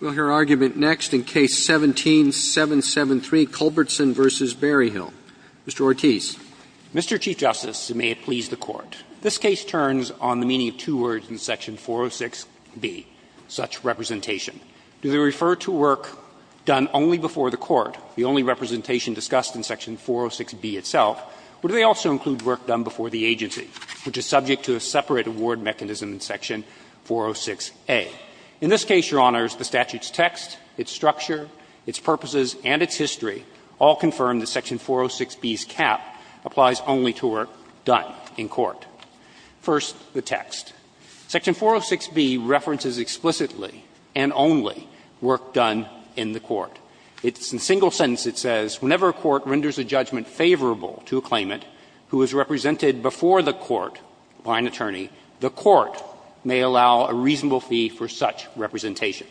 in Section 406B, such representation? Do they refer to work done only before the Court, the only representation discussed in Section 406B itself, or do they also include work done before the agency, which is subject to a separate award mechanism in Section 406A? In this case, Your Honors, the subject of the argument is not the statute's text, its structure, its purposes, and its history. All confirm that Section 406B's cap applies only to work done in court. First, the text. Section 406B references explicitly and only work done in the Court. It's in a single sentence. It says, Whenever a court renders a judgment favorable to a claimant who is represented before the Court by an attorney, the Court may allow a reasonable fee for such representation.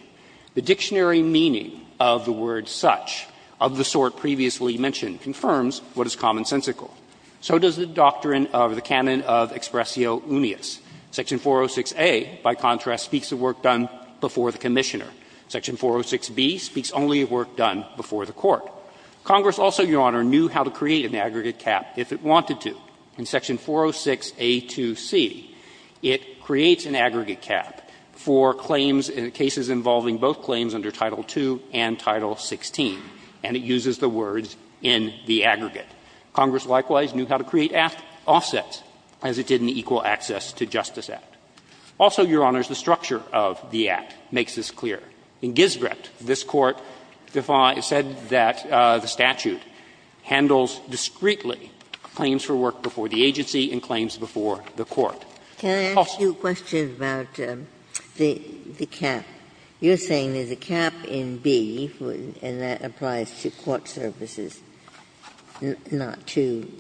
The dictionary meaning of the word such, of the sort previously mentioned, confirms what is commonsensical. So does the doctrine of the canon of expressio unius. Section 406A, by contrast, speaks of work done before the Commissioner. Section 406B speaks only of work done before the Court. Congress also, Your Honor, knew how to create an aggregate cap if it wanted to. In Section 406A, the statute is involving both claims under Title II and Title XVI, and it uses the words in the aggregate. Congress likewise knew how to create offsets, as it did in the Equal Access to Justice Act. Also, Your Honors, the structure of the Act makes this clear. In Gisbret, this Court said that the statute handles discreetly claims for work before the agency and claims before the Court. Ginsburg. Can I ask you a question about the cap? You're saying there's a cap in B, and that applies to court services, not to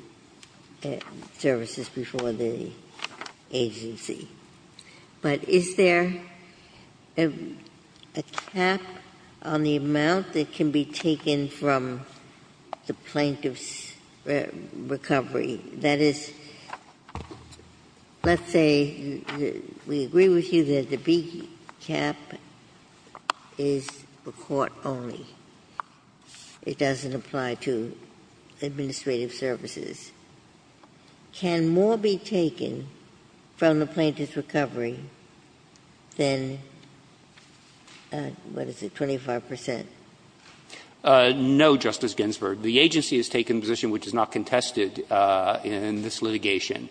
services before the agency. But is there a cap on the amount that can be taken from the plaintiff's recovery? That is, let's say, we agree with you that the B cap is for court only. It doesn't apply to administrative services. Can more be taken from the plaintiff's recovery than, what is it, 25 percent? No, Justice Ginsburg. The agency has taken a position which is not contested in this litigation,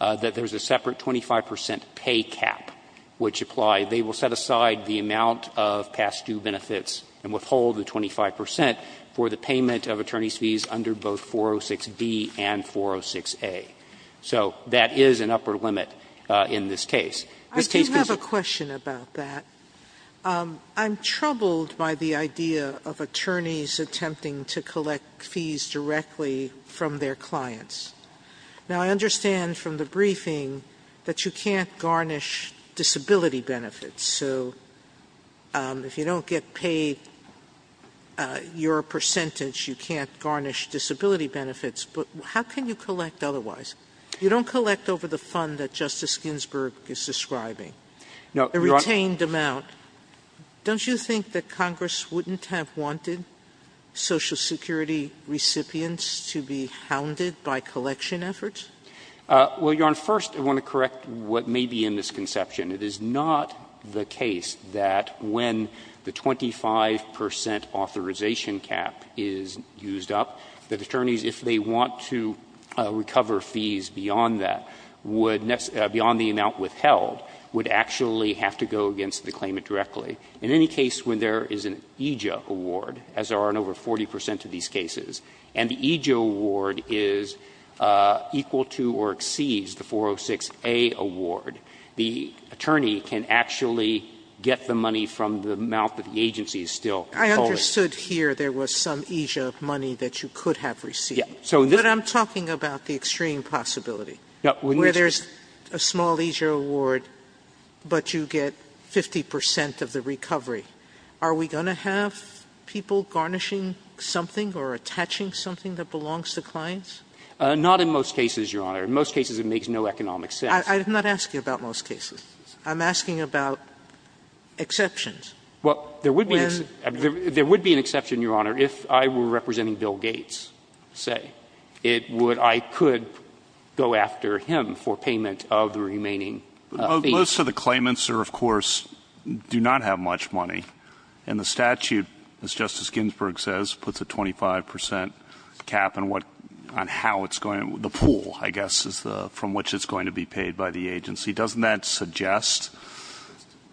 that there is a separate 25 percent pay cap which apply. They will set aside the amount of past due benefits and withhold the 25 percent for the payment of attorney's fees under both 406B and 406A. So that is an upper limit in this case. This case goes to the plaintiff's recovery. I do have a question about that. I'm troubled by the idea of attorneys attempting to collect fees directly from their clients. Now, I understand from the briefing that you can't garnish disability benefits. So if you don't get paid your percentage, you can't garnish disability benefits. But how can you collect otherwise? You don't collect over the fund that Justice Ginsburg is describing, the retained amount. Don't you think that Congress wouldn't have wanted Social Security recipients to be hounded by collection efforts? Well, Your Honor, first I want to correct what may be a misconception. It is not the case that when the 25 percent authorization cap is used up, that attorneys, if they don't get paid, they don't get paid directly. In any case, when there is an EJA award, as there are in over 40 percent of these cases, and the EJA award is equal to or exceeds the 406A award, the attorney can actually get the money from the amount that the agency is still collecting. I understood here there was some EJA money that you could have received. Yes. But I'm talking about the extreme possibility. Where there's a small EJA award, but you get 50 percent of the recovery. Are we going to have people garnishing something or attaching something that belongs to clients? Not in most cases, Your Honor. In most cases, it makes no economic sense. I'm not asking about most cases. I'm asking about exceptions. Well, there would be an exception, Your Honor, if I were representing Bill Gates, say, I could go after him for payment of the remaining fees. Most of the claimants, of course, do not have much money. And the statute, as Justice Ginsburg says, puts a 25 percent cap on how it's going to, the pool, I guess, from which it's going to be paid by the agency. Doesn't that suggest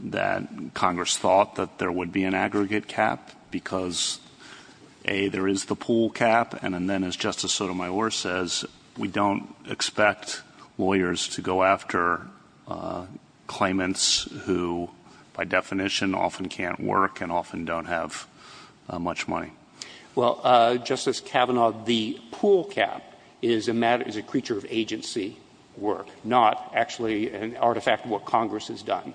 that Congress thought that there would be an aggregate cap because, A, there is the pool cap and then, as Justice Sotomayor says, we don't expect lawyers to go after claimants who, by definition, often can't work and often don't have much money? Well, Justice Kavanaugh, the pool cap is a matter, is a creature of agency work, not actually an artifact of what Congress has done.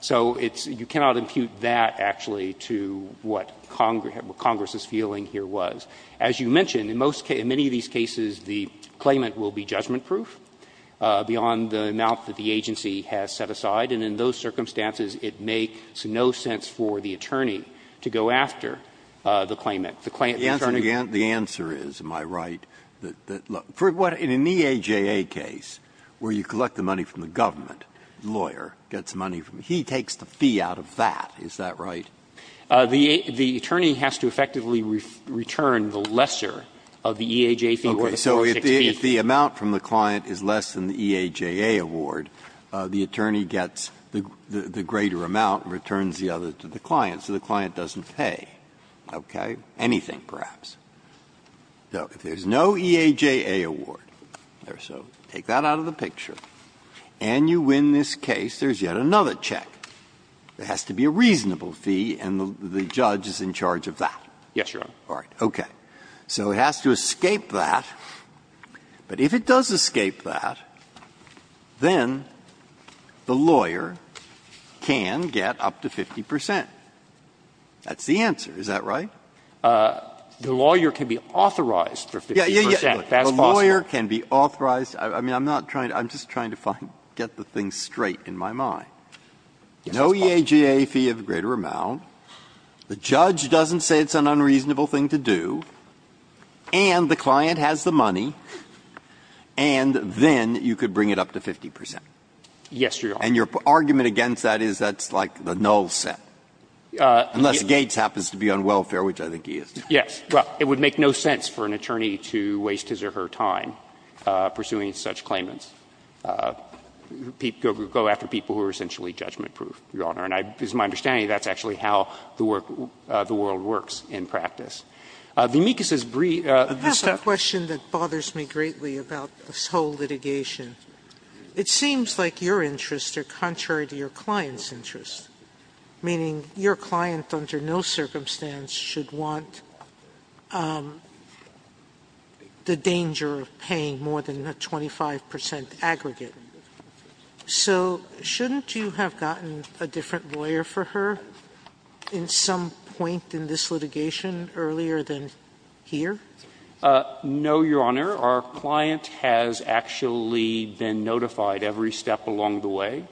So it's you cannot impute that, actually, to what Congress is feeling here was. As you mentioned, in most cases, in many of these cases, the claimant will be judgment-proof beyond the amount that the agency has set aside. And in those circumstances, it makes no sense for the attorney to go after the claimant. The answer is, am I right, that, look, in an EAJA case where you collect the money from the government, the lawyer gets money from, he takes the fee out of that, is that right? The attorney has to effectively return the lesser of the EAJA fee or the 406B fee. Okay. So if the amount from the client is less than the EAJA award, the attorney gets the greater amount and returns the other to the client, so the client doesn't have to pay, okay, anything, perhaps. So if there's no EAJA award, so take that out of the picture, and you win this case, there's yet another check. There has to be a reasonable fee, and the judge is in charge of that. Yes, Your Honor. All right. Okay. So it has to escape that. But if it does escape that, then the The lawyer can be authorized for 50 percent, if that's possible. The lawyer can be authorized. I mean, I'm not trying to – I'm just trying to find – get the thing straight in my mind. Yes, that's possible. No EAJA fee of greater amount, the judge doesn't say it's an unreasonable thing to do, and the client has the money, and then you could bring it up to 50 percent. Yes, Your Honor. And your argument against that is that's like the null set. Unless Gates happens to be on welfare, which I think he is. Yes. Well, it would make no sense for an attorney to waste his or her time pursuing such claimants. People go after people who are essentially judgment-proof, Your Honor. And it's my understanding that's actually how the world works in practice. The amicus is brief. I have a question that bothers me greatly about this whole litigation. It seems like your interests are contrary to your client's interests, meaning your client under no circumstance should want the danger of paying more than a 25 percent aggregate. So shouldn't you have gotten a different lawyer for her at some point in this litigation earlier than here? No, Your Honor. Our client has actually been notified every step along the way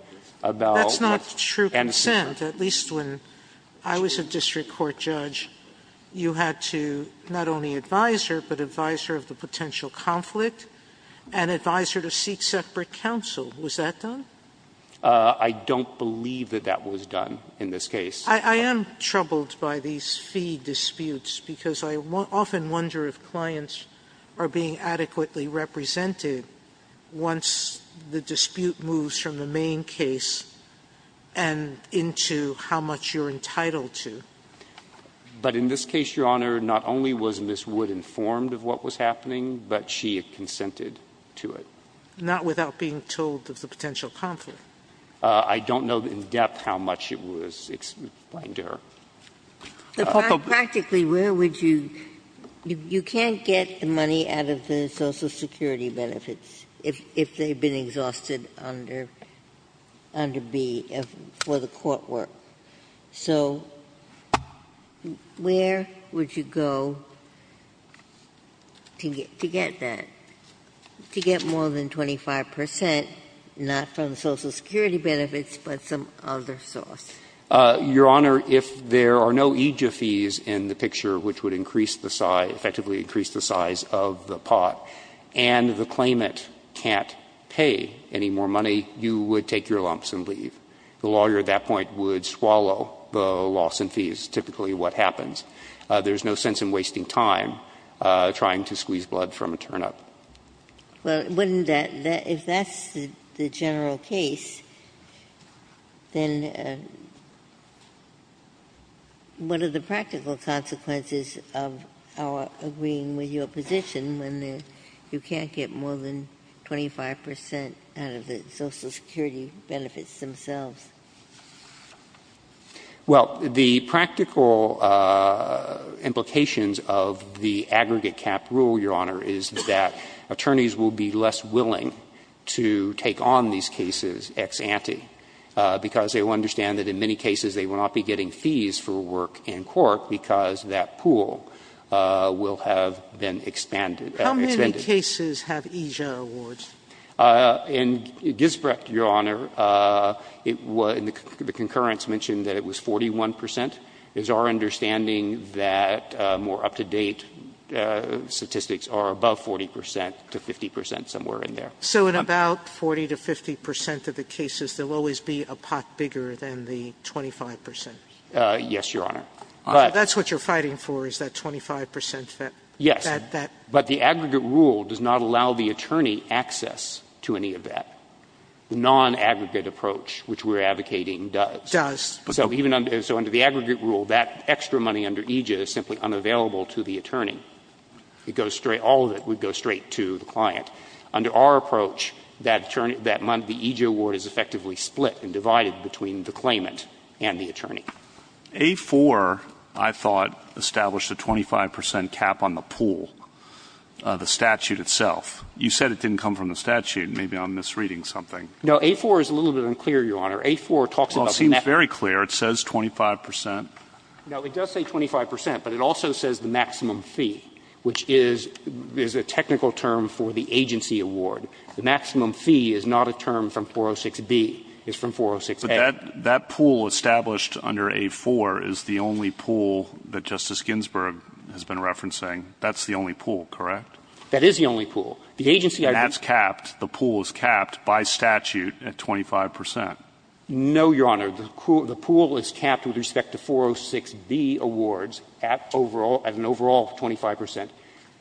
about what's an amicus. That's not true consent. At least when I was a district court judge, you had to not only advise her, but advise her of the potential conflict and advise her to seek separate counsel. Was that done? I don't believe that that was done in this case. I am troubled by these fee disputes because I often wonder if clients are being adequately represented once the dispute moves from the main case and into how much you're entitled to. But in this case, Your Honor, not only was Ms. Wood informed of what was happening, but she had consented to it. Not without being told of the potential conflict. I don't know in depth how much it was explained to her. Practically, where would you — you can't get the money out of the Social Security benefits if they've been exhausted under B for the court work. So where would you go to get that, to get more than 25 percent, not from the Social Security benefits, but some other source? Your Honor, if there are no EJIA fees in the picture, which would increase the size — effectively increase the size of the pot, and the claimant can't pay any more money, you would take your lumps and leave. The lawyer at that point would swallow the loss in fees, typically what happens. There's no sense in wasting time trying to squeeze blood from a turnip. Well, wouldn't that — if that's the general case, then what are the practical consequences of our agreeing with your position when you can't get more than 25 percent out of the Social Security benefits themselves? Well, the practical implications of the aggregate cap rule, Your Honor, is that attorneys will be less willing to take on these cases ex ante, because they will understand that in many cases they will not be getting fees for work in court because that pool will have been expanded — How many cases have EJIA awards? In Gisbrecht, Your Honor, the concurrence mentioned that it was 41 percent. It is our understanding that more up-to-date statistics are above 40 percent to 50 percent, somewhere in there. So in about 40 to 50 percent of the cases, there will always be a pot bigger than the 25 percent? Yes, Your Honor. That's what you're fighting for, is that 25 percent? Yes. But the aggregate rule does not allow the attorney access to any of that. The non-aggregate approach, which we're advocating, does. Does. So even under the aggregate rule, that extra money under EJIA is simply unavailable to the attorney. It goes straight — all of it would go straight to the client. Under our approach, that month the EJIA award is effectively split and divided between the claimant and the attorney. A-4, I thought, established a 25 percent cap on the pool, the statute itself. You said it didn't come from the statute. Maybe I'm misreading something. No. A-4 is a little bit unclear, Your Honor. A-4 talks about the maximum. Well, it seems very clear. It says 25 percent. No. It does say 25 percent, but it also says the maximum fee, which is a technical term for the agency award. The maximum fee is not a term from 406-B. It's from 406-A. That pool established under A-4 is the only pool that Justice Ginsburg has been referencing. That's the only pool, correct? That is the only pool. The agency I believe — And that's capped. The pool is capped by statute at 25 percent. No, Your Honor. The pool is capped with respect to 406-B awards at an overall 25 percent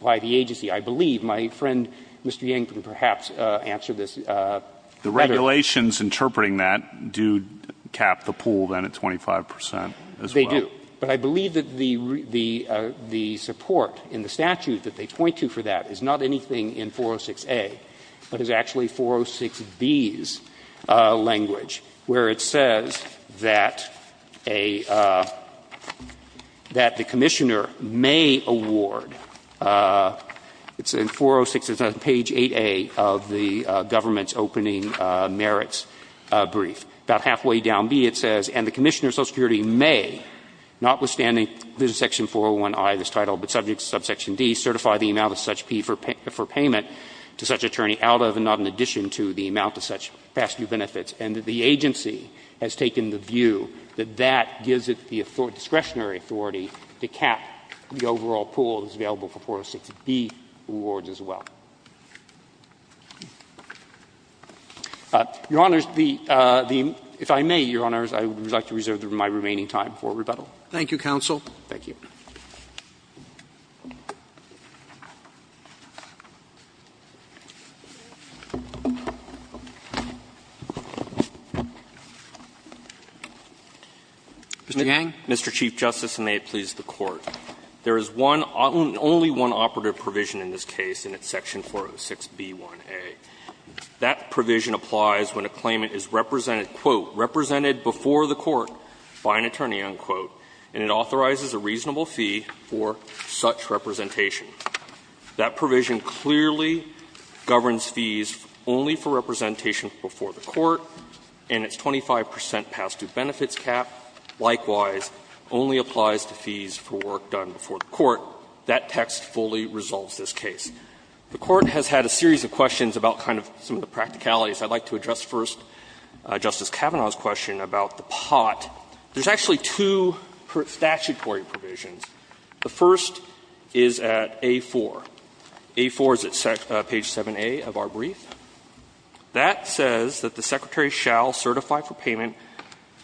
by the agency. I believe my friend Mr. Yang can perhaps answer this better. The regulations interpreting that do cap the pool then at 25 percent as well. They do. But I believe that the support in the statute that they point to for that is not anything in 406-A, but is actually 406-B's language, where it says that a — that the Commissioner may award — it's in 406, it's on page 8A of the government's opening merits brief. About halfway down B it says, And the Commissioner of Social Security may, notwithstanding Section 401i of this title, but subject to subsection D, certify the amount of such fee for payment to such attorney out of and not in addition to the amount of such past due benefits, and that the agency has taken the view that that gives it the discretionary authority to cap the overall pool that's available for 406-B awards as well. Your Honors, the — if I may, Your Honors, I would like to reserve my remaining time for rebuttal. Thank you, counsel. Thank you. Mr. Yang. Yang, Mr. Chief Justice, and may it please the Court. There is one — only one operative provision in this case, and it's Section 406-B1a. That provision applies when a claimant is represented, quote, represented before the court by an attorney, unquote, and it authorizes a reasonable fee for such representation. That provision clearly governs fees only for representation before the court and its 25 percent past due benefits cap. Likewise, only applies to fees for work done before the court. That text fully resolves this case. The Court has had a series of questions about kind of some of the practicalities. I'd like to address first Justice Kavanaugh's question about the pot. There's actually two statutory provisions. The first is at A-4. A-4 is at page 7a of our brief. That says that the secretary shall certify for payment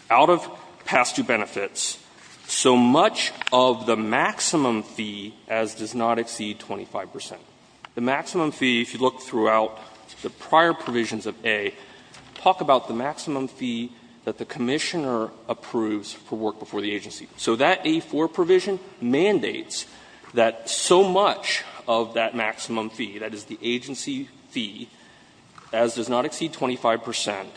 out of past due benefits so much of the maximum fee as does not exceed 25 percent. The maximum fee, if you look throughout the prior provisions of A, talk about the maximum fee that the commissioner approves for work before the agency. So that A-4 provision mandates that so much of that maximum fee, that is the agency fee, as does not exceed 25 percent,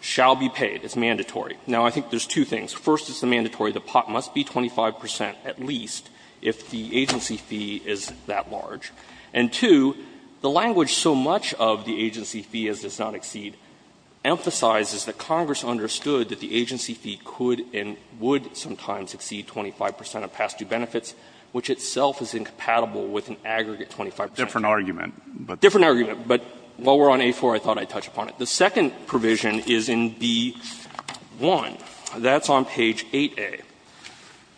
shall be paid. It's mandatory. Now, I think there's two things. First, it's mandatory. The pot must be 25 percent at least if the agency fee is that large. And two, the language so much of the agency fee as does not exceed emphasizes that Congress understood that the agency fee could and would sometimes exceed 25 percent of past due benefits, which itself is incompatible with an aggregate 25 percent. It's a different argument. Different argument. But while we're on A-4, I thought I'd touch upon it. The second provision is in B-1. That's on page 8a.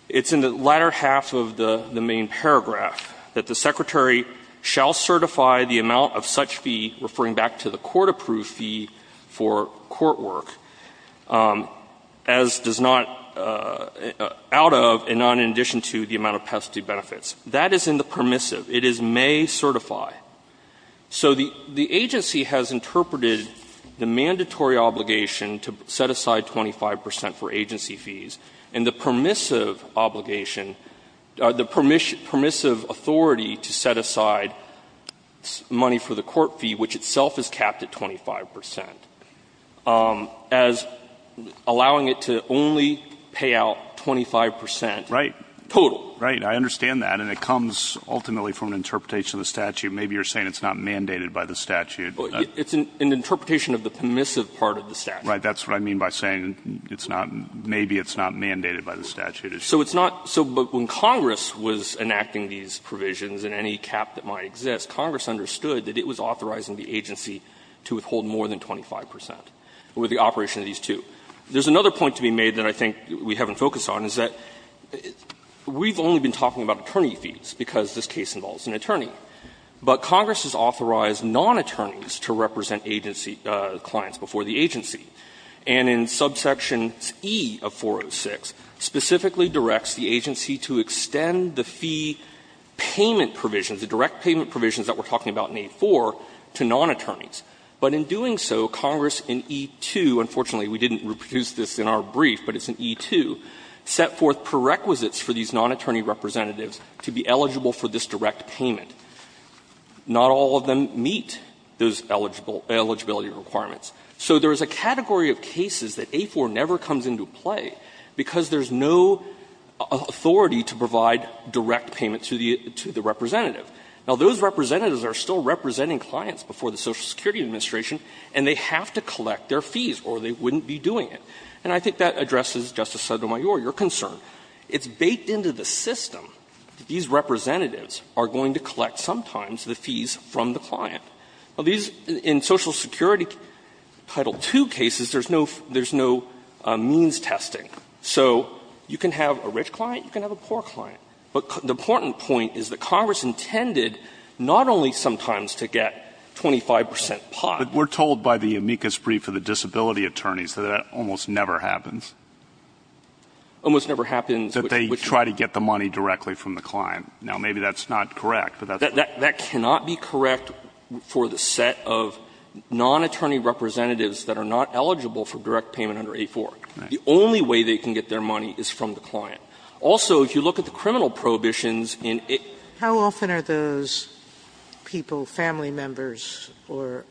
It's in the latter half of the main paragraph that the secretary shall certify the amount of such fee, referring back to the court-approved fee for court work, as does not out of and not in addition to the amount of past due benefits. That is in the permissive. It is may certify. So the agency has interpreted the mandatory obligation to set aside 25 percent for agency fees and the permissive obligation, the permissive authority to set aside money for the court fee, which itself is capped at 25 percent, as allowing it to only pay out 25 percent total. Right. I understand that. And it comes ultimately from an interpretation of the statute. Maybe you're saying it's not mandated by the statute. It's an interpretation of the permissive part of the statute. Right. That's what I mean by saying it's not, maybe it's not mandated by the statute. So it's not. So when Congress was enacting these provisions, in any cap that might exist, Congress understood that it was authorizing the agency to withhold more than 25 percent with the operation of these two. There's another point to be made that I think we haven't focused on, is that we've only been talking about attorney fees, because this case involves an attorney. But Congress has authorized non-attorneys to represent agency clients before the agency. And in subsection E of 406 specifically directs the agency to extend the fee payment provisions, the direct payment provisions that we're talking about in 8-4, to non-attorneys. But in doing so, Congress in E-2, unfortunately we didn't reproduce this in our brief, but it's in E-2, set forth prerequisites for these non-attorney representatives to be eligible for this direct payment. Not all of them meet those eligible eligibility requirements. So there is a category of cases that 8-4 never comes into play because there's no authority to provide direct payment to the representative. Now, those representatives are still representing clients before the Social Security Administration, and they have to collect their fees, or they wouldn't be doing it. And I think that addresses, Justice Sotomayor, your concern. It's baked into the system that these representatives are going to collect sometimes the fees from the client. Now, these — in Social Security Title II cases, there's no — there's no means testing. So you can have a rich client, you can have a poor client. But the important point is that Congress intended not only sometimes to get 25 percent pot. But we're told by the amicus brief of the disability attorneys that that almost never happens. Almost never happens. That they try to get the money directly from the client. Now, maybe that's not correct, but that's the point. That cannot be correct for the set of non-attorney representatives that are not eligible for direct payment under 8-4. The only way they can get their money is from the client. Also, if you look at the criminal prohibitions in — Sotomayor, how often are those people family members or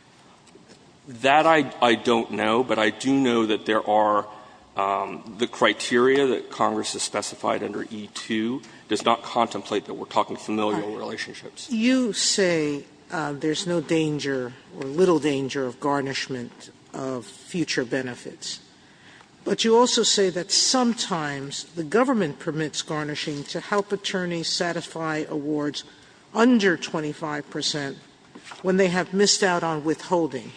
— That I don't know. But I do know that there are — the criteria that Congress has specified under E-2 does not contemplate that we're talking familial relationships. You say there's no danger or little danger of garnishment of future benefits. But you also say that sometimes the government permits garnishing to help attorneys satisfy awards under 25 percent when they have missed out on withholding.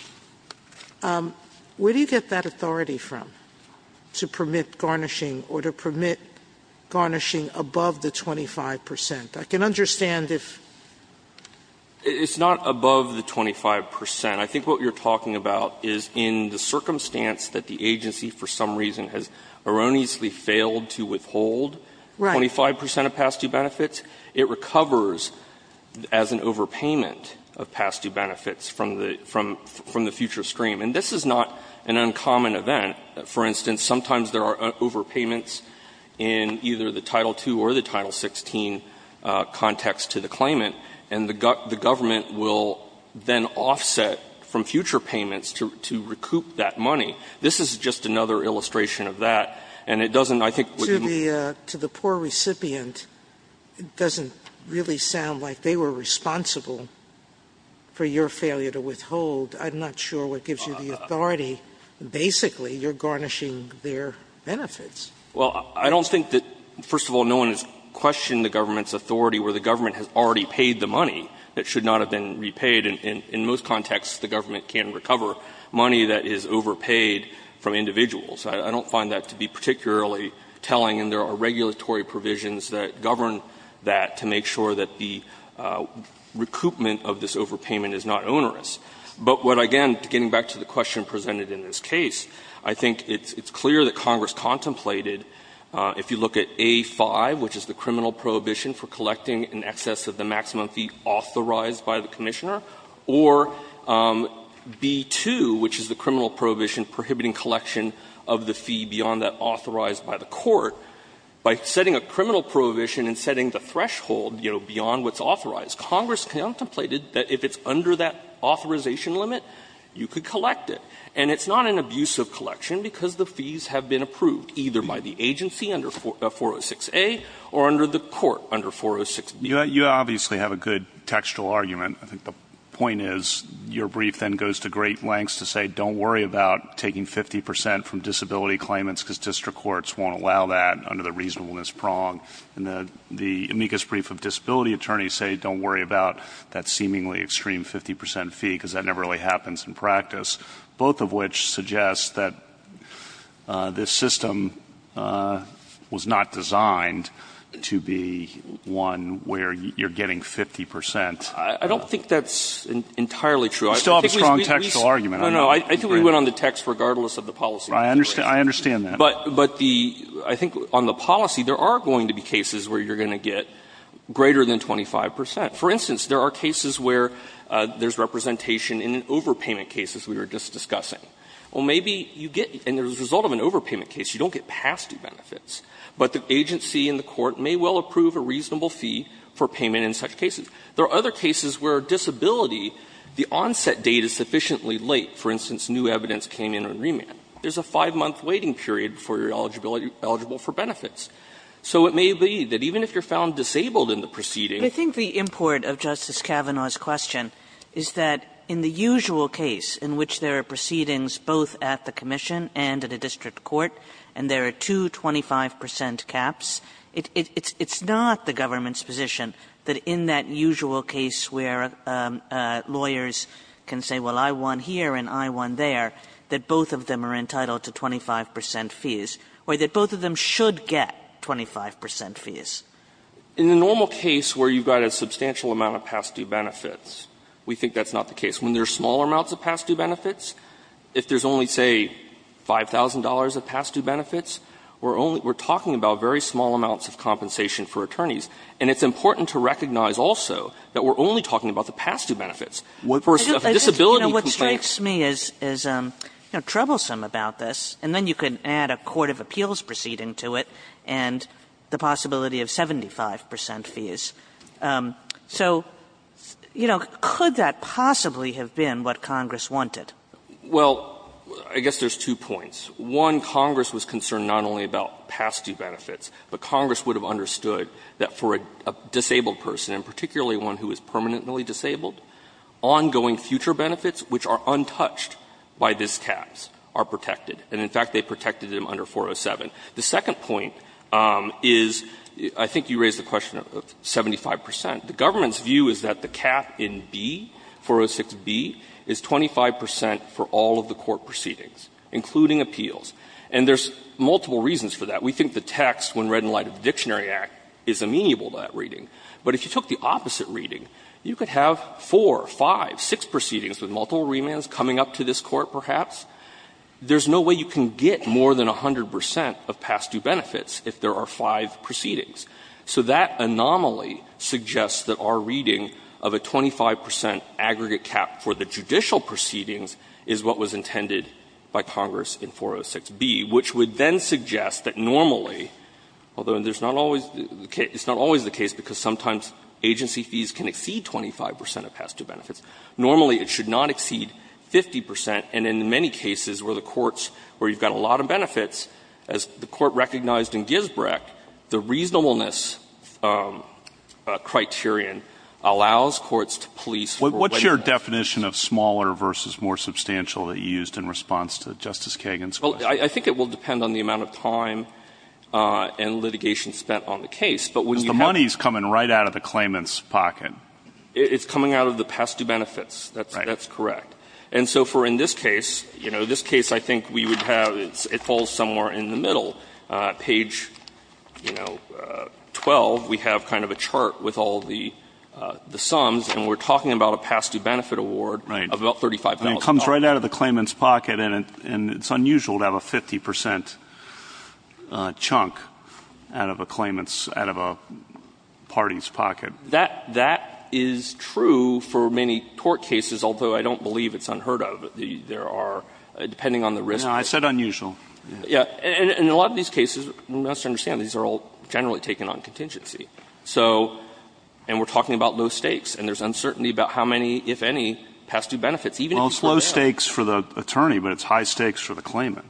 Where do you get that authority from, to permit garnishing or to permit garnishing above the 25 percent? I can understand if — It's not above the 25 percent. I think what you're talking about is in the circumstance that the agency, for some reason, has erroneously failed to withhold 25 percent of past-due benefits, it recovers as an overpayment of past-due benefits from the future stream. And this is not an uncommon event. For instance, sometimes there are overpayments in either the Title II or the Title II that offset from future payments to recoup that money. This is just another illustration of that. And it doesn't, I think, what you need to do to the poor recipient, it doesn't really sound like they were responsible for your failure to withhold. I'm not sure what gives you the authority. Basically, you're garnishing their benefits. Well, I don't think that, first of all, no one has questioned the government's authority where the government has already paid the money that should not have been paid. In most contexts, the government can recover money that is overpaid from individuals. I don't find that to be particularly telling, and there are regulatory provisions that govern that to make sure that the recoupment of this overpayment is not onerous. But what, again, getting back to the question presented in this case, I think it's clear that Congress contemplated, if you look at A-5, which is the criminal prohibition prohibiting collection of the fee beyond that authorized by the court, by setting a criminal prohibition and setting the threshold, you know, beyond what's authorized, Congress contemplated that if it's under that authorization limit, you could collect it. And it's not an abusive collection because the fees have been approved, either by the agency under 406A or under the court under 406B. You obviously have a good textual argument. I think the point is your brief then goes to great lengths to say, don't worry about taking 50% from disability claimants because district courts won't allow that under the reasonableness prong. And the amicus brief of disability attorneys say, don't worry about that seemingly extreme 50% fee because that never really happens in practice, both of which suggest that this system was not designed to be one where you're getting 50%. I don't think that's entirely true. You still have a strong textual argument. No, no. I think we went on the text regardless of the policy. I understand that. But the – I think on the policy, there are going to be cases where you're going to get greater than 25%. For instance, there are cases where there's representation in an overpayment case, as we were just discussing. Well, maybe you get – and as a result of an overpayment case, you don't get past two benefits, but the agency and the court may well approve a reasonable fee for payment in such cases. There are other cases where disability, the onset date is sufficiently late. For instance, new evidence came in on remand. There's a five-month waiting period before you're eligible for benefits. So it may be that even if you're found disabled in the proceeding – Kagan. But I think the import of Justice Kavanaugh's question is that in the usual case in which there are proceedings both at the commission and at a district court, and there are two 25% caps, it's not the government's position that in that usual case where lawyers can say, well, I won here and I won there, that both of them are entitled to 25% fees, or that both of them should get 25% fees. In the normal case where you've got a substantial amount of past due benefits, we think that's not the case. When there are small amounts of past due benefits, if there's only, say, $5,000 of past due benefits, we're only – we're talking about very small amounts of compensation for attorneys. And it's important to recognize also that we're only talking about the past due benefits. For a disability complaint – Kagan. You know, what strikes me is, you know, troublesome about this, and then you can add a court of appeals proceeding to it, and the possibility of 75% fees. So, you know, could that possibly have been what Congress wanted? Well, I guess there's two points. One, Congress was concerned not only about past due benefits, but Congress would have understood that for a disabled person, and particularly one who is permanently disabled, ongoing future benefits, which are untouched by these caps, are protected. And in fact, they protected them under 407. The second point is, I think you raised the question of 75%. The government's view is that the cap in B, 406B, is 25% for all of the court proceedings, including appeals. And there's multiple reasons for that. We think the text, when read in light of the Dictionary Act, is amenable to that reading. But if you took the opposite reading, you could have four, five, six proceedings with multiple remands coming up to this Court, perhaps. There's no way you can get more than 100% of past due benefits if there are five proceedings. So that anomaly suggests that our reading of a 25% aggregate cap for the judicial proceedings is what was intended by Congress in 406B, which would then suggest that normally, although there's not always the case, it's not always the case because sometimes agency fees can exceed 25% of past due benefits, normally it should not exceed 25%. And so in the case of the Dictionary Act, the reasonableness criterion is that the reasonableness criterion allows courts to police for whatever reason. What's your definition of smaller versus more substantial that you used in response to Justice Kagan's question? Well, I think it will depend on the amount of time and litigation spent on the case. Because the money is coming right out of the claimant's pocket. It's coming out of the past due benefits. That's correct. And so for in this case, you know, this case I think we would have, it falls somewhere in the middle. Page, you know, 12, we have kind of a chart with all of the sums, and we're talking about a past due benefit award of about $35,000. Right. And it comes right out of the claimant's pocket, and it's unusual to have a 50% chunk out of a claimant's, out of a party's pocket. That is true for many court cases, although I don't believe it's unheard of. There are, depending on the risk. No, I said unusual. Yeah. And in a lot of these cases, we must understand these are all generally taken on contingency. So, and we're talking about low stakes, and there's uncertainty about how many, if any, past due benefits, even if people don't have them. Well, it's low stakes for the attorney, but it's high stakes for the claimant.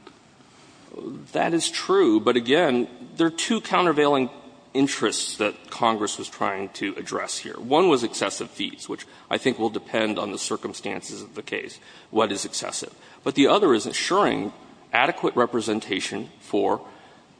That is true, but again, there are two countervailing interests that Congress was trying to address here. One was excessive fees, which I think will depend on the circumstances of the case, what is excessive. But the other is ensuring adequate representation for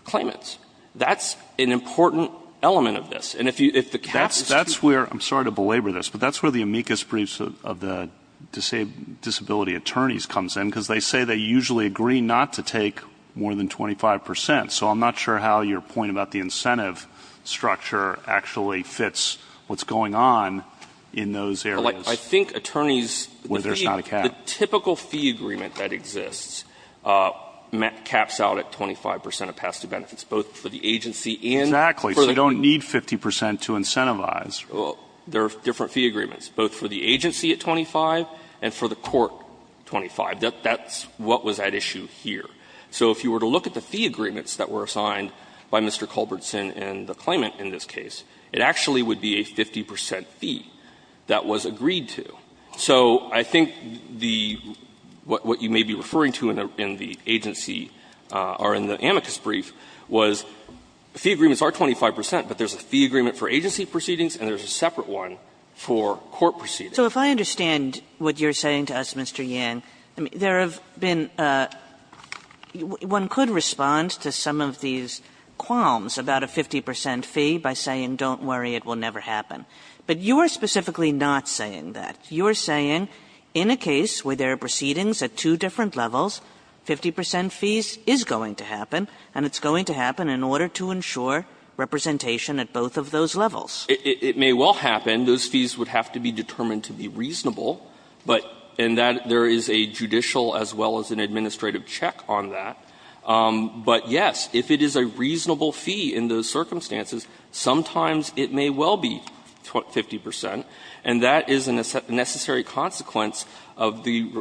claimants. That's an important element of this. And if the cap is too high. That's where, I'm sorry to belabor this, but that's where the amicus briefs of the disability attorneys comes in, because they say they usually agree not to take more than 25%. So I'm not sure how your point about the incentive structure actually fits what's going on in those areas. I think attorneys, the fee, the typical fee agreement that exists caps out at 25% of past due benefits, both for the agency and for the claimant. Exactly. So you don't need 50% to incentivize. Well, there are different fee agreements, both for the agency at 25 and for the court 25. That's what was at issue here. So if you were to look at the fee agreements that were assigned by Mr. Culbertson and the claimant in this case, it actually would be a 50% fee that was agreed to. So I think the what you may be referring to in the agency or in the amicus brief was fee agreements are 25%, but there's a fee agreement for agency proceedings and there's a separate one for court proceedings. So if I understand what you're saying to us, Mr. Yang, there have been one could respond to some of these qualms about a 50% fee by saying don't worry, it will never happen. But you are specifically not saying that. You are saying in a case where there are proceedings at two different levels, 50% fees is going to happen and it's going to happen in order to ensure representation at both of those levels. It may well happen. Those fees would have to be determined to be reasonable, but in that there is a judicial as well as an administrative check on that. But, yes, if it is a reasonable fee in those circumstances, sometimes it may well be 50%, and that is a necessary consequence of the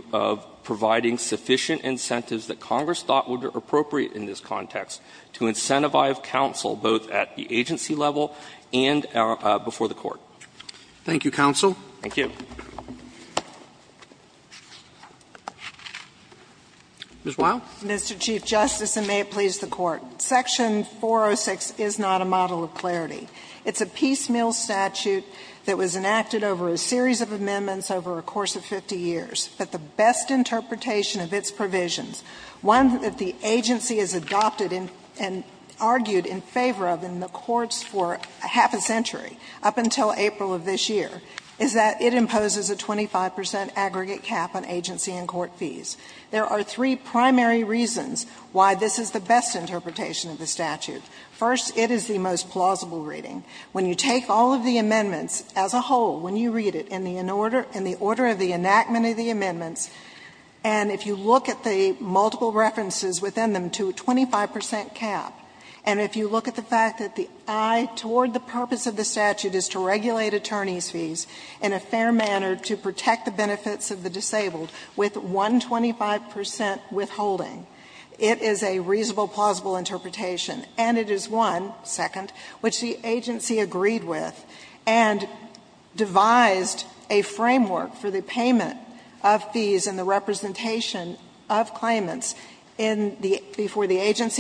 providing sufficient incentives that Congress thought would be appropriate in this context to incentivize counsel both at the agency level and before the court. Roberts. Thank you, counsel. Thank you. Ms. Wild. Mr. Chief Justice, and may it please the Court. Section 406 is not a model of clarity. It's a piecemeal statute that was enacted over a series of amendments over a course of 50 years. But the best interpretation of its provisions, one that the agency has adopted and argued in favor of in the courts for half a century, up until April of this year, is that it imposes a 25% aggregate cap on agency and court fees. There are three primary reasons why this is the best interpretation of the statute. First, it is the most plausible reading. When you take all of the amendments as a whole, when you read it in the order of the enactment of the amendments, and if you look at the multiple references within them to a 25% cap, and if you look at the fact that the eye toward the purpose of the statute is to regulate attorneys' fees in a fair manner to protect the benefits of the disabled with one 25% withholding, it is a reasonable, plausible interpretation. And it is one, second, which the agency agreed with and devised a framework for the agency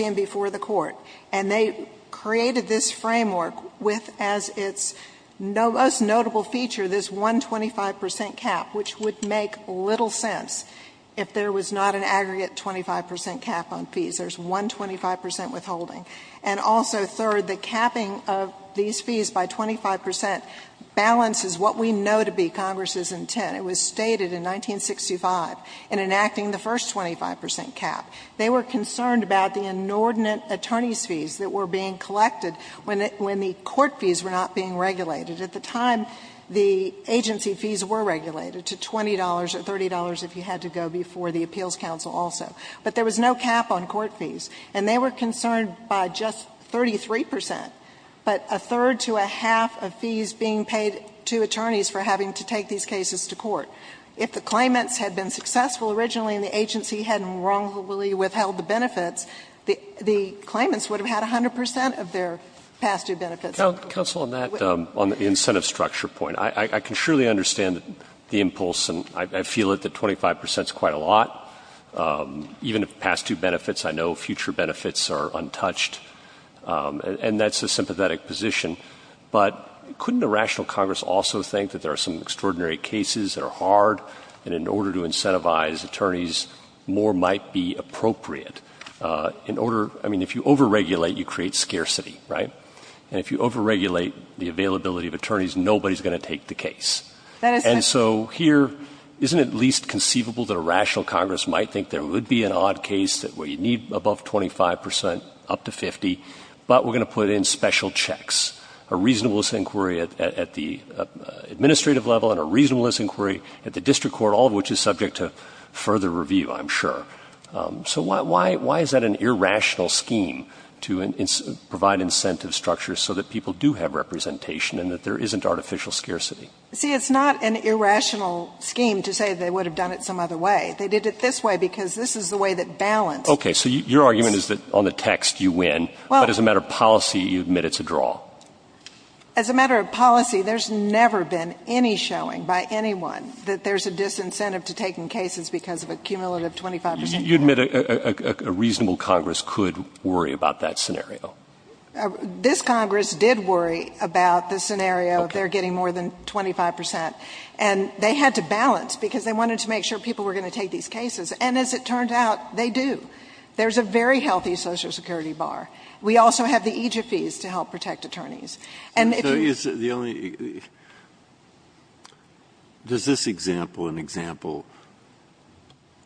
and before the court. And they created this framework with, as its most notable feature, this one 25% cap, which would make little sense if there was not an aggregate 25% cap on fees. There's one 25% withholding. And also, third, the capping of these fees by 25% balances what we know to be Congress's intent. It was stated in 1965 in enacting the first 25% cap. They were concerned about the inordinate attorneys' fees that were being collected when the court fees were not being regulated. At the time, the agency fees were regulated to $20 or $30 if you had to go before the appeals counsel also. But there was no cap on court fees. And they were concerned by just 33%, but a third to a half of fees being paid to attorneys for having to take these cases to court. If the claimants had been successful originally and the agency hadn't wrongfully withheld the benefits, the claimants would have had 100% of their past-due benefits. MR. WESTMORELAND. Counsel, on that, on the incentive structure point, I can surely understand the impulse. And I feel that the 25% is quite a lot. Even if past-due benefits, I know future benefits are untouched. And that's a sympathetic position. But couldn't a rational Congress also think that there are some extraordinary cases that are hard, and in order to incentivize attorneys, more might be appropriate? In order – I mean, if you overregulate, you create scarcity, right? And if you overregulate the availability of attorneys, nobody's going to take the case. MS. That is correct. MR. WESTMORELAND. And so here, isn't it at least conceivable that a rational Congress might think there would be an odd case where you need above 25%, up to 50, but we're going to put in special checks, a reasonableness inquiry at the administrative level and a reasonableness inquiry at the district court, all of which is subject to further review, I'm sure. So why is that an irrational scheme to provide incentive structures so that people do have representation and that there isn't artificial scarcity? MS. WESTMORELAND. See, it's not an irrational scheme to say they would have done it some other way. They did it this way because this is the way that balance – MR. WESTMORELAND. Okay. So your argument is that on the text, you win, but as a matter of policy, you admit it's a draw. MS. There's a disincentive to taking cases because of a cumulative 25 percent. WESTMORELAND. You admit a reasonable Congress could worry about that scenario? MS. WESTMORELAND. This Congress did worry about the scenario of their getting more than 25 percent. And they had to balance because they wanted to make sure people were going to take these cases. And as it turned out, they do. There's a very healthy Social Security bar. We also have the EJFEs to help protect attorneys. And if you – MR. There's this example, an example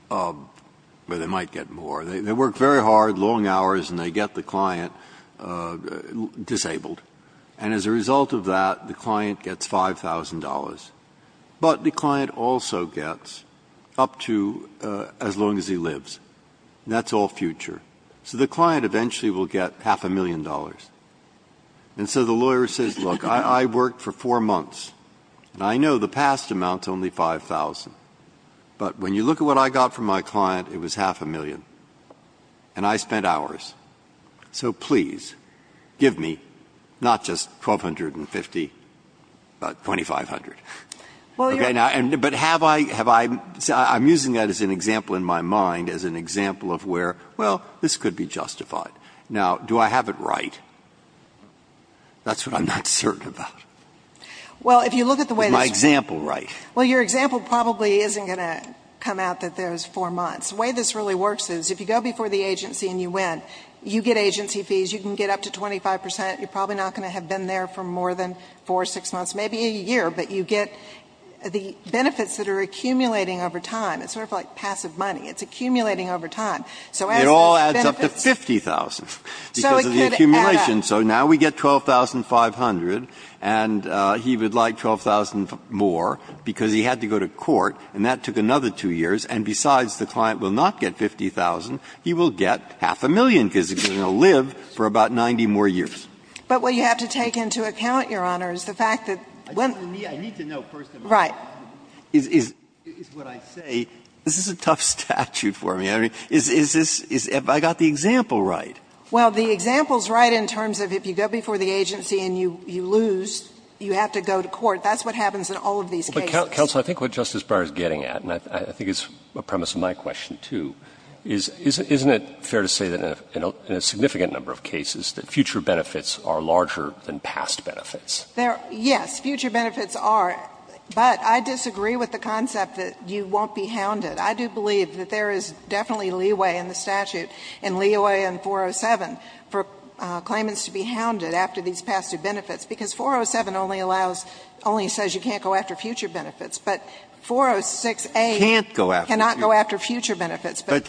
where they might get more. They work very hard, long hours, and they get the client disabled. And as a result of that, the client gets $5,000. But the client also gets up to as long as he lives. That's all future. So the client eventually will get half a million dollars. And so the lawyer says, look, I worked for four months. And I know the past amount's only $5,000. But when you look at what I got from my client, it was half a million. And I spent hours. So please, give me not just $1,250, but $2,500. MS. WESTMORELAND. But have I – I'm using that as an example in my mind, as an example of where, well, this could be justified. Now, do I have it right? That's what I'm not certain about. MS. WESTMORELAND. Well, if you look at the way this works – MR. BOUTROUS. Is my example right? MS. WESTMORELAND. Well, your example probably isn't going to come out that there's four months. The way this really works is, if you go before the agency and you win, you get agency fees. You can get up to 25 percent. You're probably not going to have been there for more than four, six months, maybe a year. But you get the benefits that are accumulating over time. It's sort of like passive money. It's accumulating over time. So as the benefits – BOUTROUS. It all adds up to $50,000 because of the accumulation. MS. WESTMORELAND. And he would like $12,000 more because he had to go to court, and that took another two years. And besides, the client will not get $50,000. He will get half a million because he's going to live for about 90 more years. MS. WESTMORELAND. But what you have to take into account, Your Honor, is the fact that when – I need to know, first of all. MS. WESTMORELAND. Right. MR. BOUTROUS. Is what I say – this is a tough statute for me. I mean, is this – have I got the example right? MS. WESTMORELAND. Well, the example's right in terms of if you go before the agency and you lose, you have to go to court. That's what happens in all of these cases. MR. BOUTROUS. Counsel, I think what Justice Breyer is getting at, and I think it's a premise of my question, too, is isn't it fair to say that in a significant number of cases that future benefits are larger than past benefits? MS. WESTMORELAND. Yes, future benefits are. But I disagree with the concept that you won't be hounded. I do believe that there is definitely leeway in the statute, and leeway in 407, for claimants to be hounded after these past due benefits. Because 407 only allows – only says you can't go after future benefits. But 406a cannot go after future benefits. But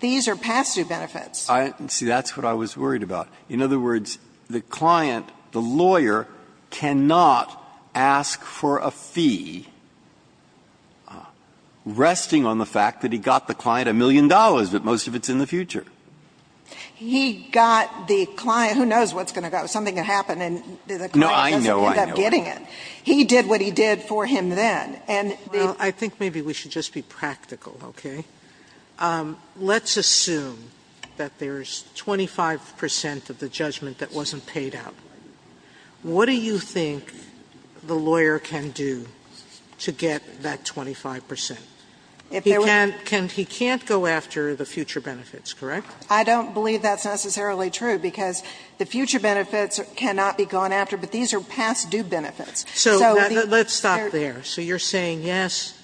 these are past due benefits. MR. BOUTROUS. See, that's what I was worried about. In other words, the client, the lawyer, cannot ask for a fee resting on the fact that he got the client a million dollars, but most of it's in the future. MS. WESTMORELAND. He got the client – who knows what's going to go, something's going to happen BOUTROUS. No, I know. MS. WESTMORELAND. He did what he did for him then. And the – SOTOMAYOR. Well, I think maybe we should just be practical, okay? Let's assume that there's 25 percent of the judgment that wasn't paid out. What do you think the lawyer can do to get that 25 percent? MS. WESTMORELAND. If there were – SOTOMAYOR. He can't go after the future benefits, correct? MS. WESTMORELAND. I don't believe that's necessarily true, because the future benefits cannot be gone after, but these are past due benefits. So the – SOTOMAYOR. Let's stop there. So you're saying, yes,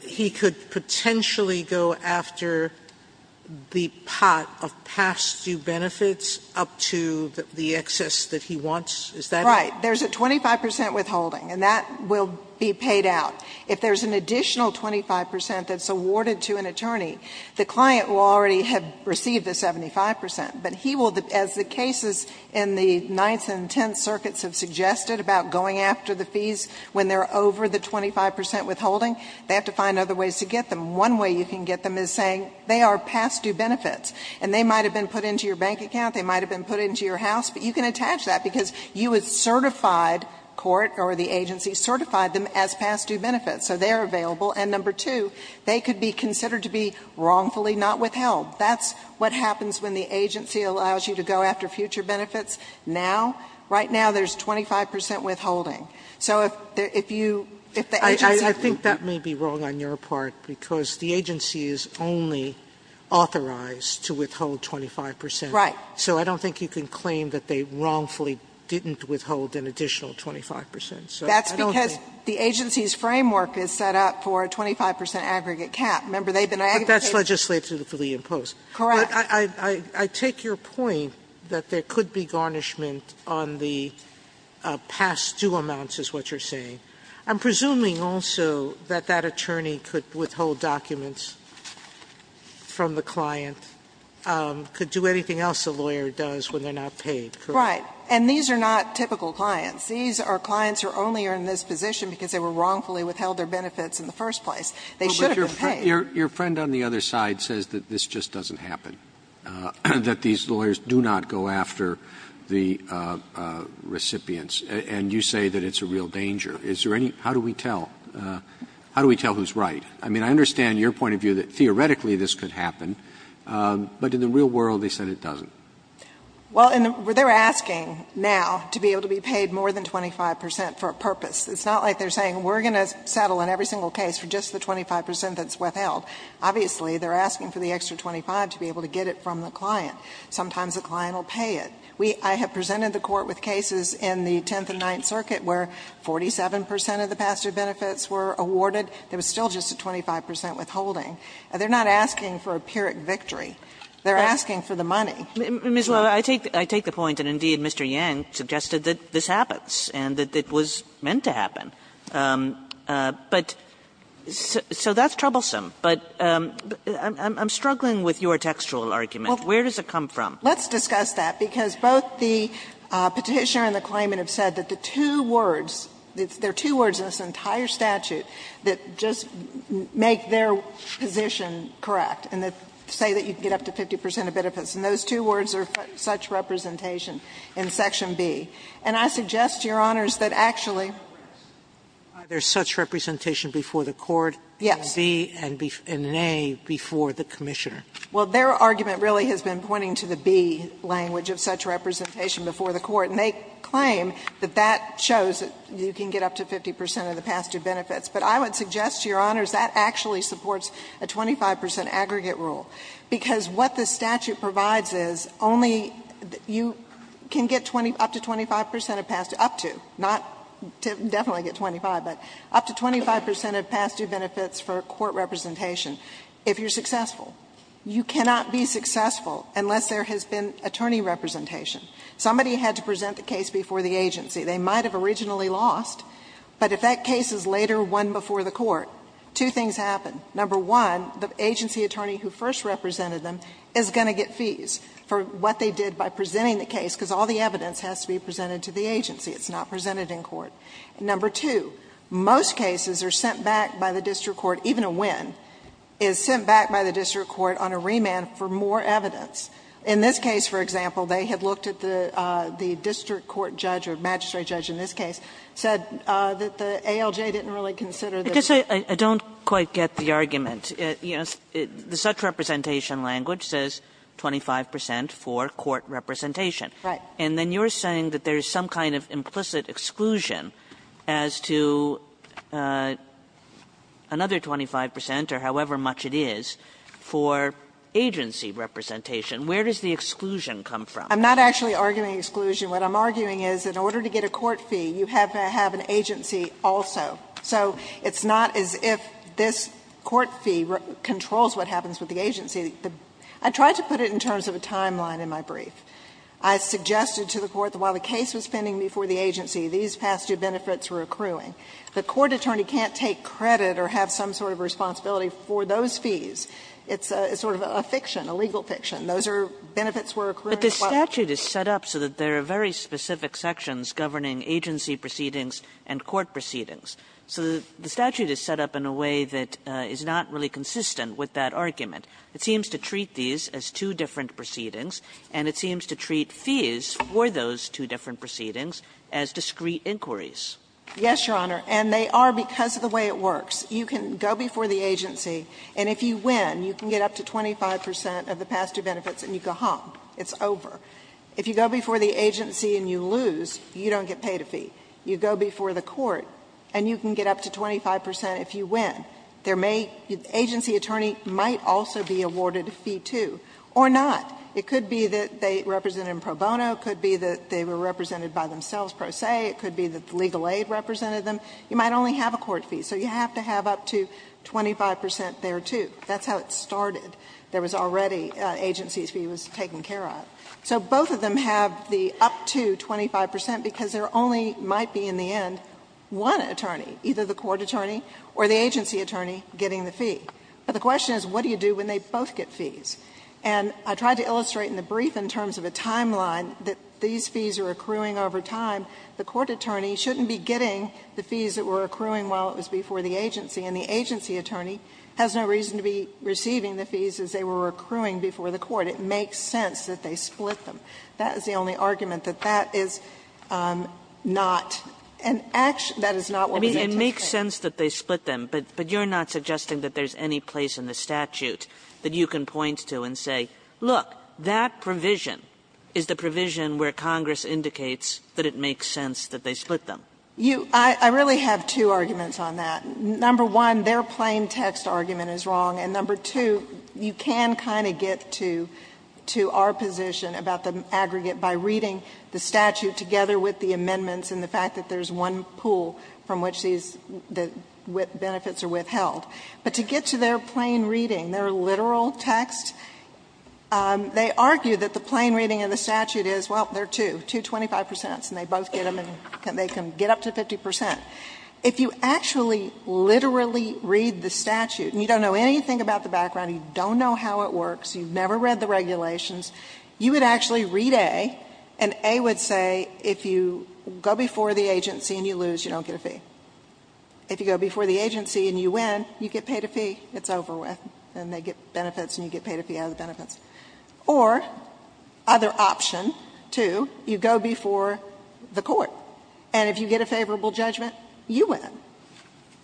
he could potentially go after the pot of past due benefits up to the excess that he wants? MS. WESTMORELAND. Right. There's a 25 percent withholding, and that will be paid out. If there's an additional 25 percent that's awarded to an attorney, the client will already have received the 75 percent. But he will – as the cases in the Ninth and Tenth Circuits have suggested about going after the fees when they're over the 25 percent withholding, they have to find other ways to get them. One way you can get them is saying they are past due benefits, and they might have been put into your bank account, they might have been put into your house, but you can attach that, because you have certified – court or the agency certified them as past due benefits. So they are available. And number two, they could be considered to be wrongfully not withheld. That's what happens when the agency allows you to go after future benefits now. Right now, there's 25 percent withholding. So if you – if the agency – SOTOMAYOR. I think that may be wrong on your part, because the agency is only authorized to withhold 25 percent. WESTMORELAND. Right. SOTOMAYOR. So I don't think you can claim that they wrongfully didn't withhold an additional 25 percent. MS. WESTMORELAND. That's because the agency's framework is set up for a 25 percent aggregate cap. Remember, they've been – SOTOMAYOR. But that's legislatively imposed. MS. Correct. I take your point that there could be garnishment on the past due amounts is what you're saying. I'm presuming also that that attorney could withhold documents from the client, could do anything else a lawyer does when they're not paid, correct? MS. WESTMORELAND. Right. And these are not typical clients. These are clients who only are in this position because they were wrongfully withheld their benefits in the first place. They should have been paid. SOTOMAYOR. Your friend on the other side says that this just doesn't happen. That these lawyers do not go after the recipients. And you say that it's a real danger. Is there any – how do we tell? How do we tell who's right? I mean, I understand your point of view that theoretically this could happen, but in the real world they said it doesn't. MS. WESTMORELAND. Well, they're asking now to be able to be paid more than 25 percent for a purpose. It's not like they're saying we're going to settle on every single case for just the 25 percent that's withheld. Obviously, they're asking for the extra 25 to be able to get it from the client. Sometimes the client will pay it. We – I have presented the Court with cases in the Tenth and Ninth Circuit where 47 percent of the pastor benefits were awarded. There was still just a 25 percent withholding. They're not asking for a pyrrhic victory. They're asking for the money. KAGAN. Ms. Loew, I take the point that indeed Mr. Yang suggested that this happens and that it was meant to happen. But – so that's troublesome. But I'm struggling with your textual argument. Where does it come from? MS. WESTMORELAND. Let's discuss that, because both the Petitioner and the claimant have said that the two words – there are two words in this entire statute that just make their position correct and say that you can get up to 50 percent of benefits. And those two words are such representation in Section B. And I suggest, Your Honors, that actually – SOTOMAYOR. Are there such representation before the Court? MS. WESTMORELAND. Yes. SOTOMAYOR. In B and in A before the Commissioner. WESTMORELAND. Well, their argument really has been pointing to the B language of such representation before the Court. And they claim that that shows that you can get up to 50 percent of the past-due benefits. But I would suggest, Your Honors, that actually supports a 25 percent aggregate rule, because what the statute provides is only – you can get up to 25 percent of past – up to, not – definitely get 25, but up to 25 percent of past-due benefits for court representation if you're successful. You cannot be successful unless there has been attorney representation. Somebody had to present the case before the agency. They might have originally lost, but if that case is later won before the Court, two things happen. Number one, the agency attorney who first represented them is going to get fees for what they did by presenting the case, because all the evidence has to be presented to the agency. It's not presented in court. Number two, most cases are sent back by the district court, even a win, is sent back by the district court on a remand for more evidence. In this case, for example, they had looked at the district court judge or magistrate judge in this case, said that the ALJ didn't really consider the rule. Kagan, I guess I don't quite get the argument. You know, the such representation language says 25 percent for court representation. Right. And then you're saying that there's some kind of implicit exclusion as to another 25 percent or however much it is for agency representation. Where does the exclusion come from? I'm not actually arguing exclusion. What I'm arguing is in order to get a court fee, you have to have an agency also. So it's not as if this court fee controls what happens with the agency. I tried to put it in terms of a timeline in my brief. I suggested to the court that while the case was pending before the agency, these past two benefits were accruing. The court attorney can't take credit or have some sort of responsibility for those fees. It's sort of a fiction, a legal fiction. Those are benefits were accruing while the case was pending. Kagan, but the statute is set up so that there are very specific sections governing agency proceedings and court proceedings. So the statute is set up in a way that is not really consistent with that argument. It seems to treat these as two different proceedings, and it seems to treat fees for those two different proceedings as discrete inquiries. Yes, Your Honor, and they are because of the way it works. You can go before the agency, and if you win, you can get up to 25 percent of the past two benefits and you go home. It's over. If you go before the agency and you lose, you don't get paid a fee. You go before the court and you can get up to 25 percent if you win. There may be an agency attorney might also be awarded a fee, too, or not. It could be that they represented them pro bono. It could be that they were represented by themselves pro se. It could be that the legal aid represented them. You might only have a court fee, so you have to have up to 25 percent there, too. That's how it started. There was already an agency fee that was taken care of. So both of them have the up to 25 percent because there only might be in the end one attorney, either the court attorney or the agency attorney, getting the fee. But the question is what do you do when they both get fees? And I tried to illustrate in the brief in terms of a timeline that these fees are accruing over time. The court attorney shouldn't be getting the fees that were accruing while it was before the agency, and the agency attorney has no reason to be receiving the fees as they were accruing before the court. It makes sense that they split them. That is the only argument, that is not an action. That is not what we anticipate. Kagan I mean, it makes sense that they split them. But you're not suggesting that there's any place in the statute that you can point to and say, look, that provision is the provision where Congress indicates that it makes sense that they split them. You — I really have two arguments on that. Number one, their plain text argument is wrong, and, number two, you can kind of get to our position about the aggregate by reading the statute together with the amendments and the fact that there's one pool from which these benefits are withheld. But to get to their plain reading, their literal text, they argue that the plain reading in the statute is, well, there are two, two 25 percents, and they both get them and they can get up to 50 percent. If you actually literally read the statute and you don't know anything about the regulations, you would actually read A, and A would say, if you go before the agency and you lose, you don't get a fee. If you go before the agency and you win, you get paid a fee. It's over with, and they get benefits, and you get paid a fee out of the benefits. Or, other option, too, you go before the court, and if you get a favorable judgment, you win.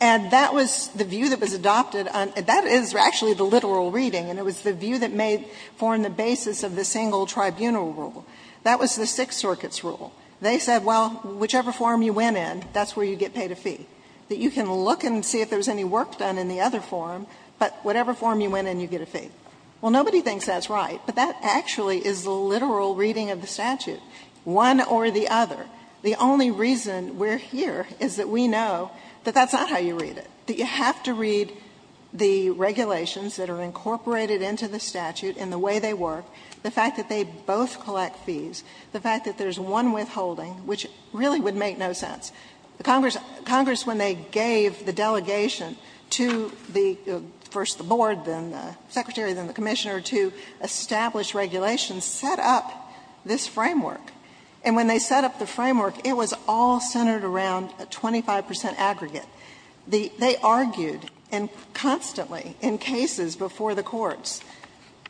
And that was the view that was adopted on — that is actually the literal reading. And it was the view that made — formed the basis of the single tribunal rule. That was the Sixth Circuit's rule. They said, well, whichever form you win in, that's where you get paid a fee. That you can look and see if there's any work done in the other form, but whatever form you win in, you get a fee. Well, nobody thinks that's right, but that actually is the literal reading of the statute, one or the other. The only reason we're here is that we know that that's not how you read it, that you have to read the regulations that are incorporated into the statute and the way they work, the fact that they both collect fees, the fact that there's one withholding, which really would make no sense. Congress, when they gave the delegation to the — first the board, then the secretary, then the commissioner, to establish regulations, set up this framework. And when they set up the framework, it was all centered around a 25 percent aggregate. They argued, and constantly, in cases before the courts,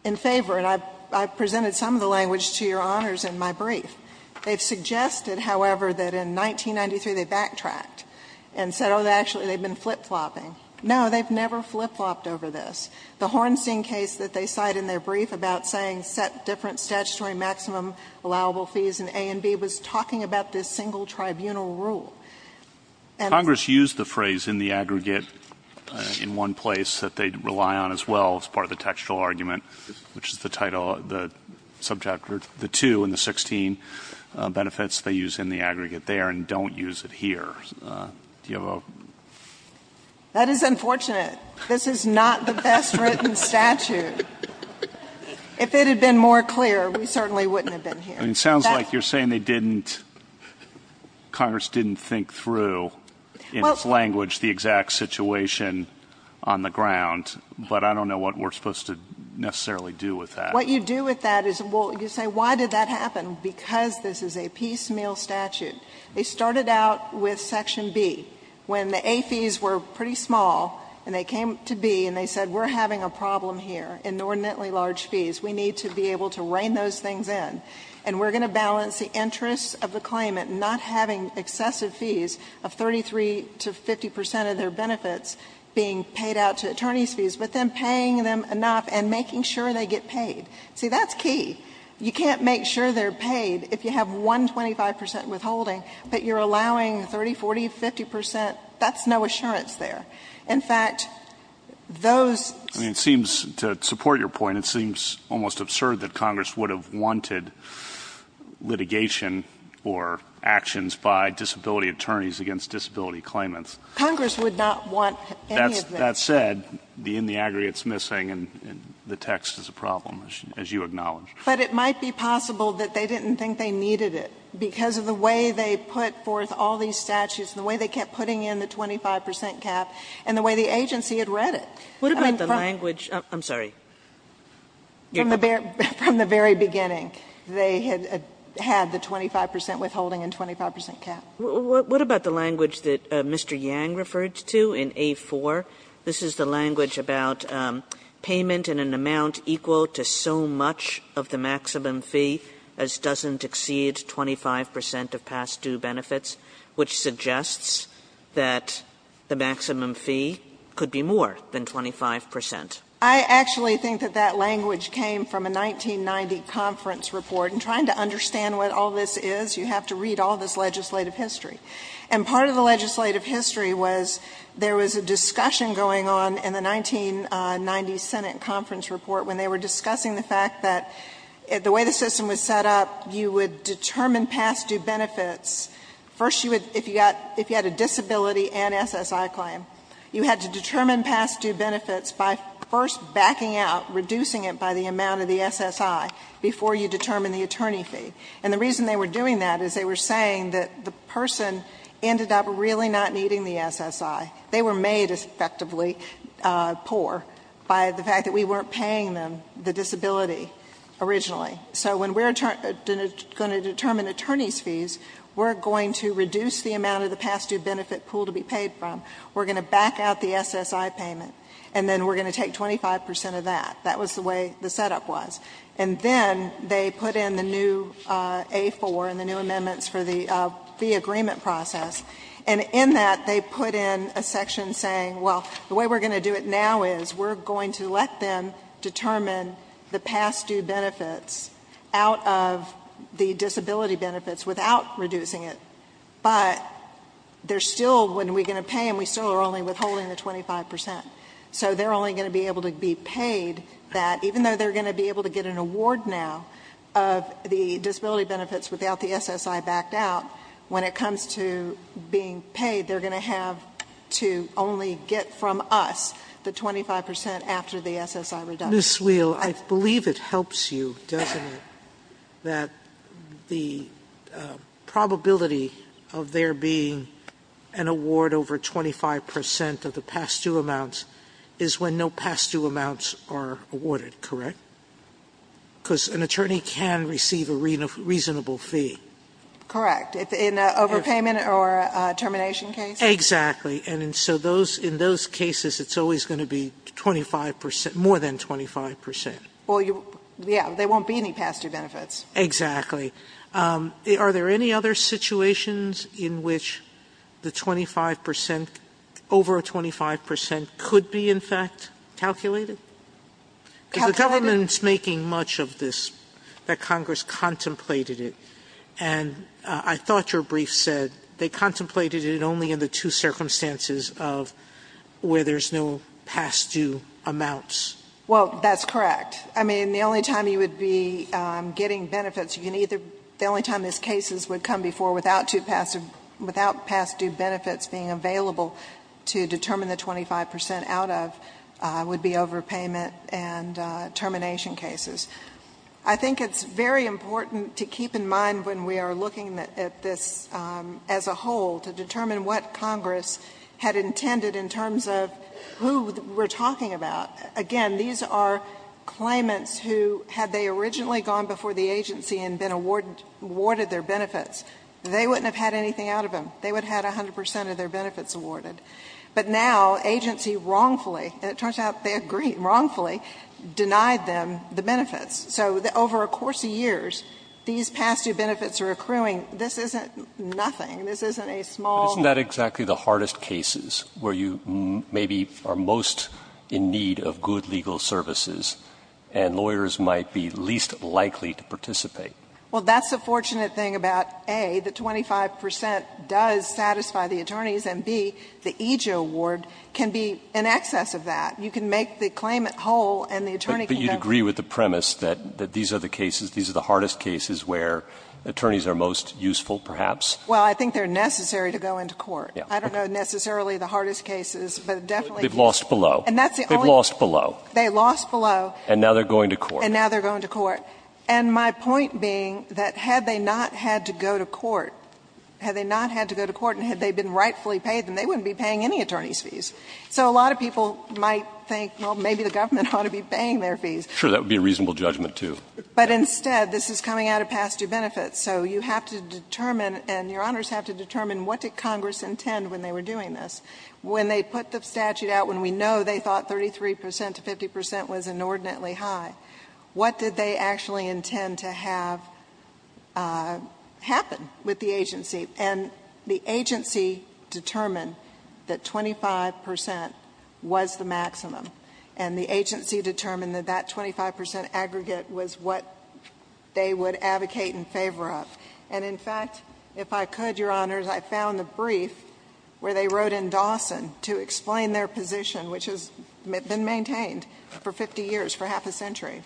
in favor. And I've presented some of the language to Your Honors in my brief. They've suggested, however, that in 1993, they backtracked and said, oh, actually, they've been flip-flopping. No, they've never flip-flopped over this. The Hornstein case that they cite in their brief about saying set different statutory maximum allowable fees in A and B was talking about this single tribunal rule. And — Congress used the phrase in the aggregate in one place that they rely on as well as part of the textual argument, which is the title — the subject — or the two in the 16 benefits they use in the aggregate there, and don't use it here. Do you have a — That is unfortunate. This is not the best-written statute. If it had been more clear, we certainly wouldn't have been here. I mean, it sounds like you're saying they didn't — Congress didn't think through in its language the exact situation on the ground. But I don't know what we're supposed to necessarily do with that. What you do with that is — well, you say, why did that happen? Because this is a piecemeal statute. They started out with Section B. When the A fees were pretty small, and they came to B and they said, we're having a problem here in ordinantly large fees. We need to be able to rein those things in. And we're going to balance the interests of the claimant not having excessive fees of 33 to 50 percent of their benefits being paid out to attorneys' fees, but then paying them enough and making sure they get paid. See, that's key. You can't make sure they're paid if you have 125 percent withholding, but you're allowing 30, 40, 50 percent. That's no assurance there. In fact, those — I mean, it seems — to support your point, it seems almost absurd that Congress would have wanted litigation or actions by disability attorneys against disability claimants. Congress would not want any of this. That said, the in the aggregate is missing, and the text is a problem, as you acknowledge. But it might be possible that they didn't think they needed it because of the way they put forth all these statutes and the way they kept putting in the 25 percent cap and the way the agency had read it. What about the language — I'm sorry. From the very beginning, they had had the 25 percent withholding and 25 percent cap. Kagan, what about the language that Mr. Yang referred to in A-4? This is the language about payment in an amount equal to so much of the maximum fee as doesn't exceed 25 percent of past due benefits, which suggests that the maximum fee could be more than 25 percent. I actually think that that language came from a 1990 conference report. And trying to understand what all this is, you have to read all this legislative history. And part of the legislative history was there was a discussion going on in the 1990 Senate conference report when they were discussing the fact that the way the system was set up, you would determine past due benefits. First, you would — if you got — if you had a disability and SSI claim, you had to first backing out, reducing it by the amount of the SSI before you determine the attorney fee. And the reason they were doing that is they were saying that the person ended up really not needing the SSI. They were made, effectively, poor by the fact that we weren't paying them the disability originally. So when we're going to determine attorney's fees, we're going to reduce the amount of the past due benefit pool to be paid from. We're going to back out the SSI payment. And then we're going to take 25 percent of that. That was the way the setup was. And then they put in the new A4 and the new amendments for the fee agreement process. And in that, they put in a section saying, well, the way we're going to do it now is we're going to let them determine the past due benefits out of the disability benefits without reducing it. But there's still, when we're going to pay them, we're still only withholding the 25 percent. So they're only going to be able to be paid that, even though they're going to be able to get an award now of the disability benefits without the SSI backed out, when it comes to being paid, they're going to have to only get from us the 25 percent after the SSI reduction. Ms. Wheel, I believe it helps you, doesn't it, that the probability of there being an award over 25 percent of the past due amounts is when no past due amounts are awarded, correct? Because an attorney can receive a reasonable fee. Correct. In an overpayment or a termination case? Exactly. And so in those cases, it's always going to be 25 percent, more than 25 percent. Well, yeah, there won't be any past due benefits. Exactly. Are there any other situations in which the 25 percent, over a 25 percent could be, in fact, calculated? Because the government's making much of this, that Congress contemplated it. And I thought your brief said they contemplated it only in the two circumstances of where there's no past due amounts. Well, that's correct. I mean, the only time you would be getting benefits, the only time these cases would come before without past due benefits being available to determine the 25 percent out of would be overpayment and termination cases. I think it's very important to keep in mind when we are looking at this as a whole to determine what Congress had intended in terms of who we're talking about. Again, these are claimants who, had they originally gone before the agency and been awarded their benefits, they wouldn't have had anything out of them. They would have had 100 percent of their benefits awarded. But now agency wrongfully, and it turns out they agree wrongfully, denied them the benefits. So over a course of years, these past due benefits are accruing. This isn't nothing. This isn't a small ---- Isn't that exactly the hardest cases where you maybe are most in need of good legal services and lawyers might be least likely to participate? Well, that's the fortunate thing about, A, the 25 percent does satisfy the attorneys, and, B, the EJA award can be in excess of that. You can make the claimant whole and the attorney can go ---- But you agree with the premise that these are the cases, these are the hardest cases where attorneys are most useful, perhaps? Well, I think they're necessary to go into court. I don't know necessarily the hardest cases, but definitely ---- They've lost below. They've lost below. They lost below. And now they're going to court. And now they're going to court. And my point being that had they not had to go to court, had they not had to go to court and had they been rightfully paid, then they wouldn't be paying any attorney's fees. So a lot of people might think, well, maybe the government ought to be paying their fees. Sure. That would be a reasonable judgment, too. But instead, this is coming out of past due benefits. So you have to determine, and Your Honors have to determine, what did Congress intend when they were doing this? When they put the statute out, when we know they thought 33 percent to 50 percent was inordinately high, what did they actually intend to have happen with the agency? And the agency determined that 25 percent was the maximum. And the agency determined that that 25 percent aggregate was what they would advocate in favor of. And in fact, if I could, Your Honors, I found the brief where they wrote in Dawson to explain their position, which has been maintained for 50 years, for half a century.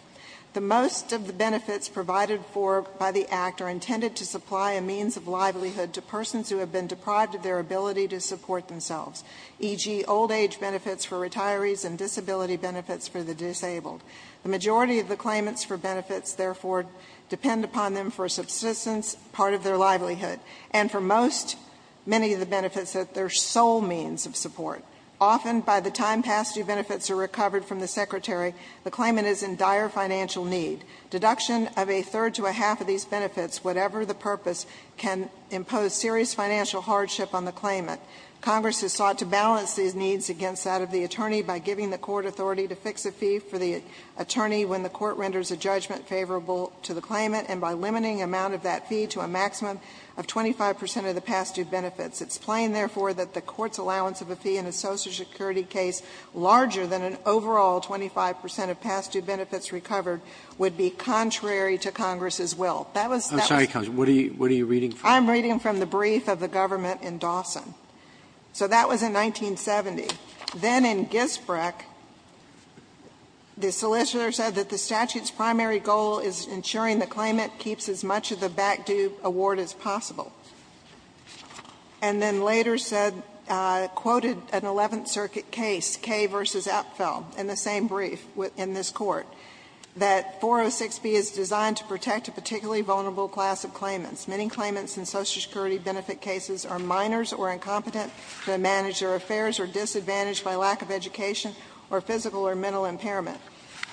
The most of the benefits provided for by the Act are intended to supply a means of livelihood to persons who have been deprived of their ability to support themselves, e.g., old age benefits for retirees and disability benefits for the disabled. The majority of the claimants for benefits, therefore, depend upon them for a subsistence part of their livelihood. And for most, many of the benefits, that they're sole means of support. Often, by the time past due benefits are recovered from the Secretary, the claimant is in dire financial need. Deduction of a third to a half of these benefits, whatever the purpose, can impose serious financial hardship on the claimant. Congress has sought to balance these needs against that of the attorney by giving the court authority to fix a fee for the attorney when the court renders a judgment favorable to the claimant, and by limiting the amount of that fee to a maximum of 25 percent of the past due benefits. It's plain, therefore, that the court's allowance of a fee in a Social Security case larger than an overall 25 percent of past due benefits recovered would be contrary to Congress's will. That was that was the case. Roberts, I'm sorry, Counsel, what are you reading from? I'm reading from the brief of the government in Dawson. So that was in 1970. Then in Gisbrecht, the solicitor said that the statute's primary goal is ensuring the claimant keeps as much of the back-due award as possible. And then later said, quoted an Eleventh Circuit case, Kay v. Apfel, in the same brief in this Court, that 406B is designed to protect a particularly vulnerable class of claimants. Many claimants in Social Security benefit cases are minors or incompetent, they manage their affairs, or disadvantaged by lack of education or physical or mental impairment.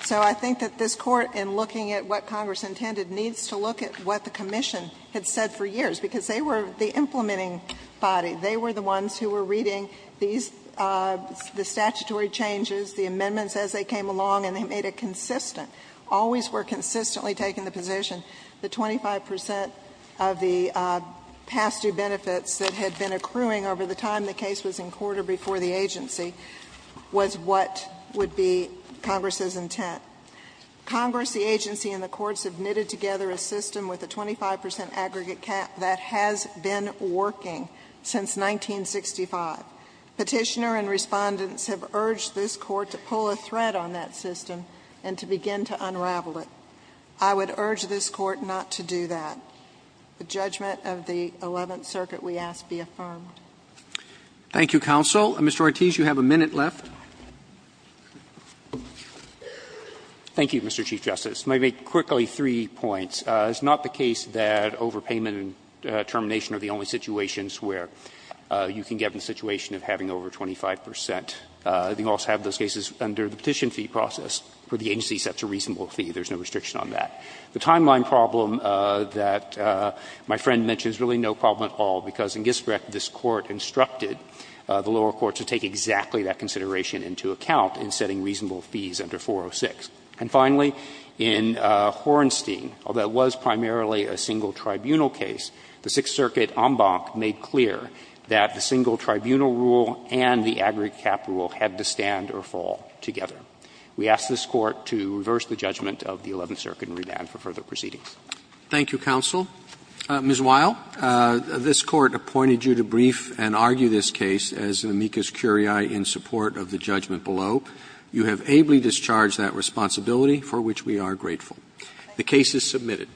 So I think that this Court, in looking at what Congress intended, needs to look at what the Commission had said for years, because they were the implementing body. They were the ones who were reading these, the statutory changes, the amendments as they came along, and they made it consistent, always were consistently taking the position that 25 percent of the past due benefits that had been accruing over the time the case was in court or before the agency was what would be Congress's intent. Congress, the agency, and the courts have knitted together a system with a 25 percent aggregate cap that has been working since 1965. Petitioner and Respondents have urged this Court to pull a thread on that system and to begin to unravel it. I would urge this Court not to do that. The judgment of the Eleventh Circuit, we ask, be affirmed. Roberts. Thank you, counsel. Mr. Ortiz, you have a minute left. Ortiz, you have a minute left. Ortiz, you have a minute left. Ortiz, you have a minute left. Thank you, Mr. Chief Justice. Let me make quickly three points. It's not the case that overpayment and termination are the only situations where you can get in a situation of having over 25 percent. You can also have those cases under the petition fee process where the agency sets a reasonable fee. There is no restriction on that. The timeline problem that my friend mentioned is really no problem at all, because in Gisbrecht, this Court instructed the lower courts to take exactly that consideration into account in setting reasonable fees under 406. And finally, in Hornstein, although it was primarily a single tribunal case, the Sixth Circuit en banc made clear that the single tribunal rule and the agri-cap rule had to stand or fall together. We ask this Court to reverse the judgment of the Eleventh Circuit and revamp it for further proceedings. Roberts. Thank you, counsel. Ms. Weil, this Court appointed you to brief and argue this case as amicus curiae in support of the judgment below. You have ably discharged that responsibility, for which we are grateful. The case is submitted.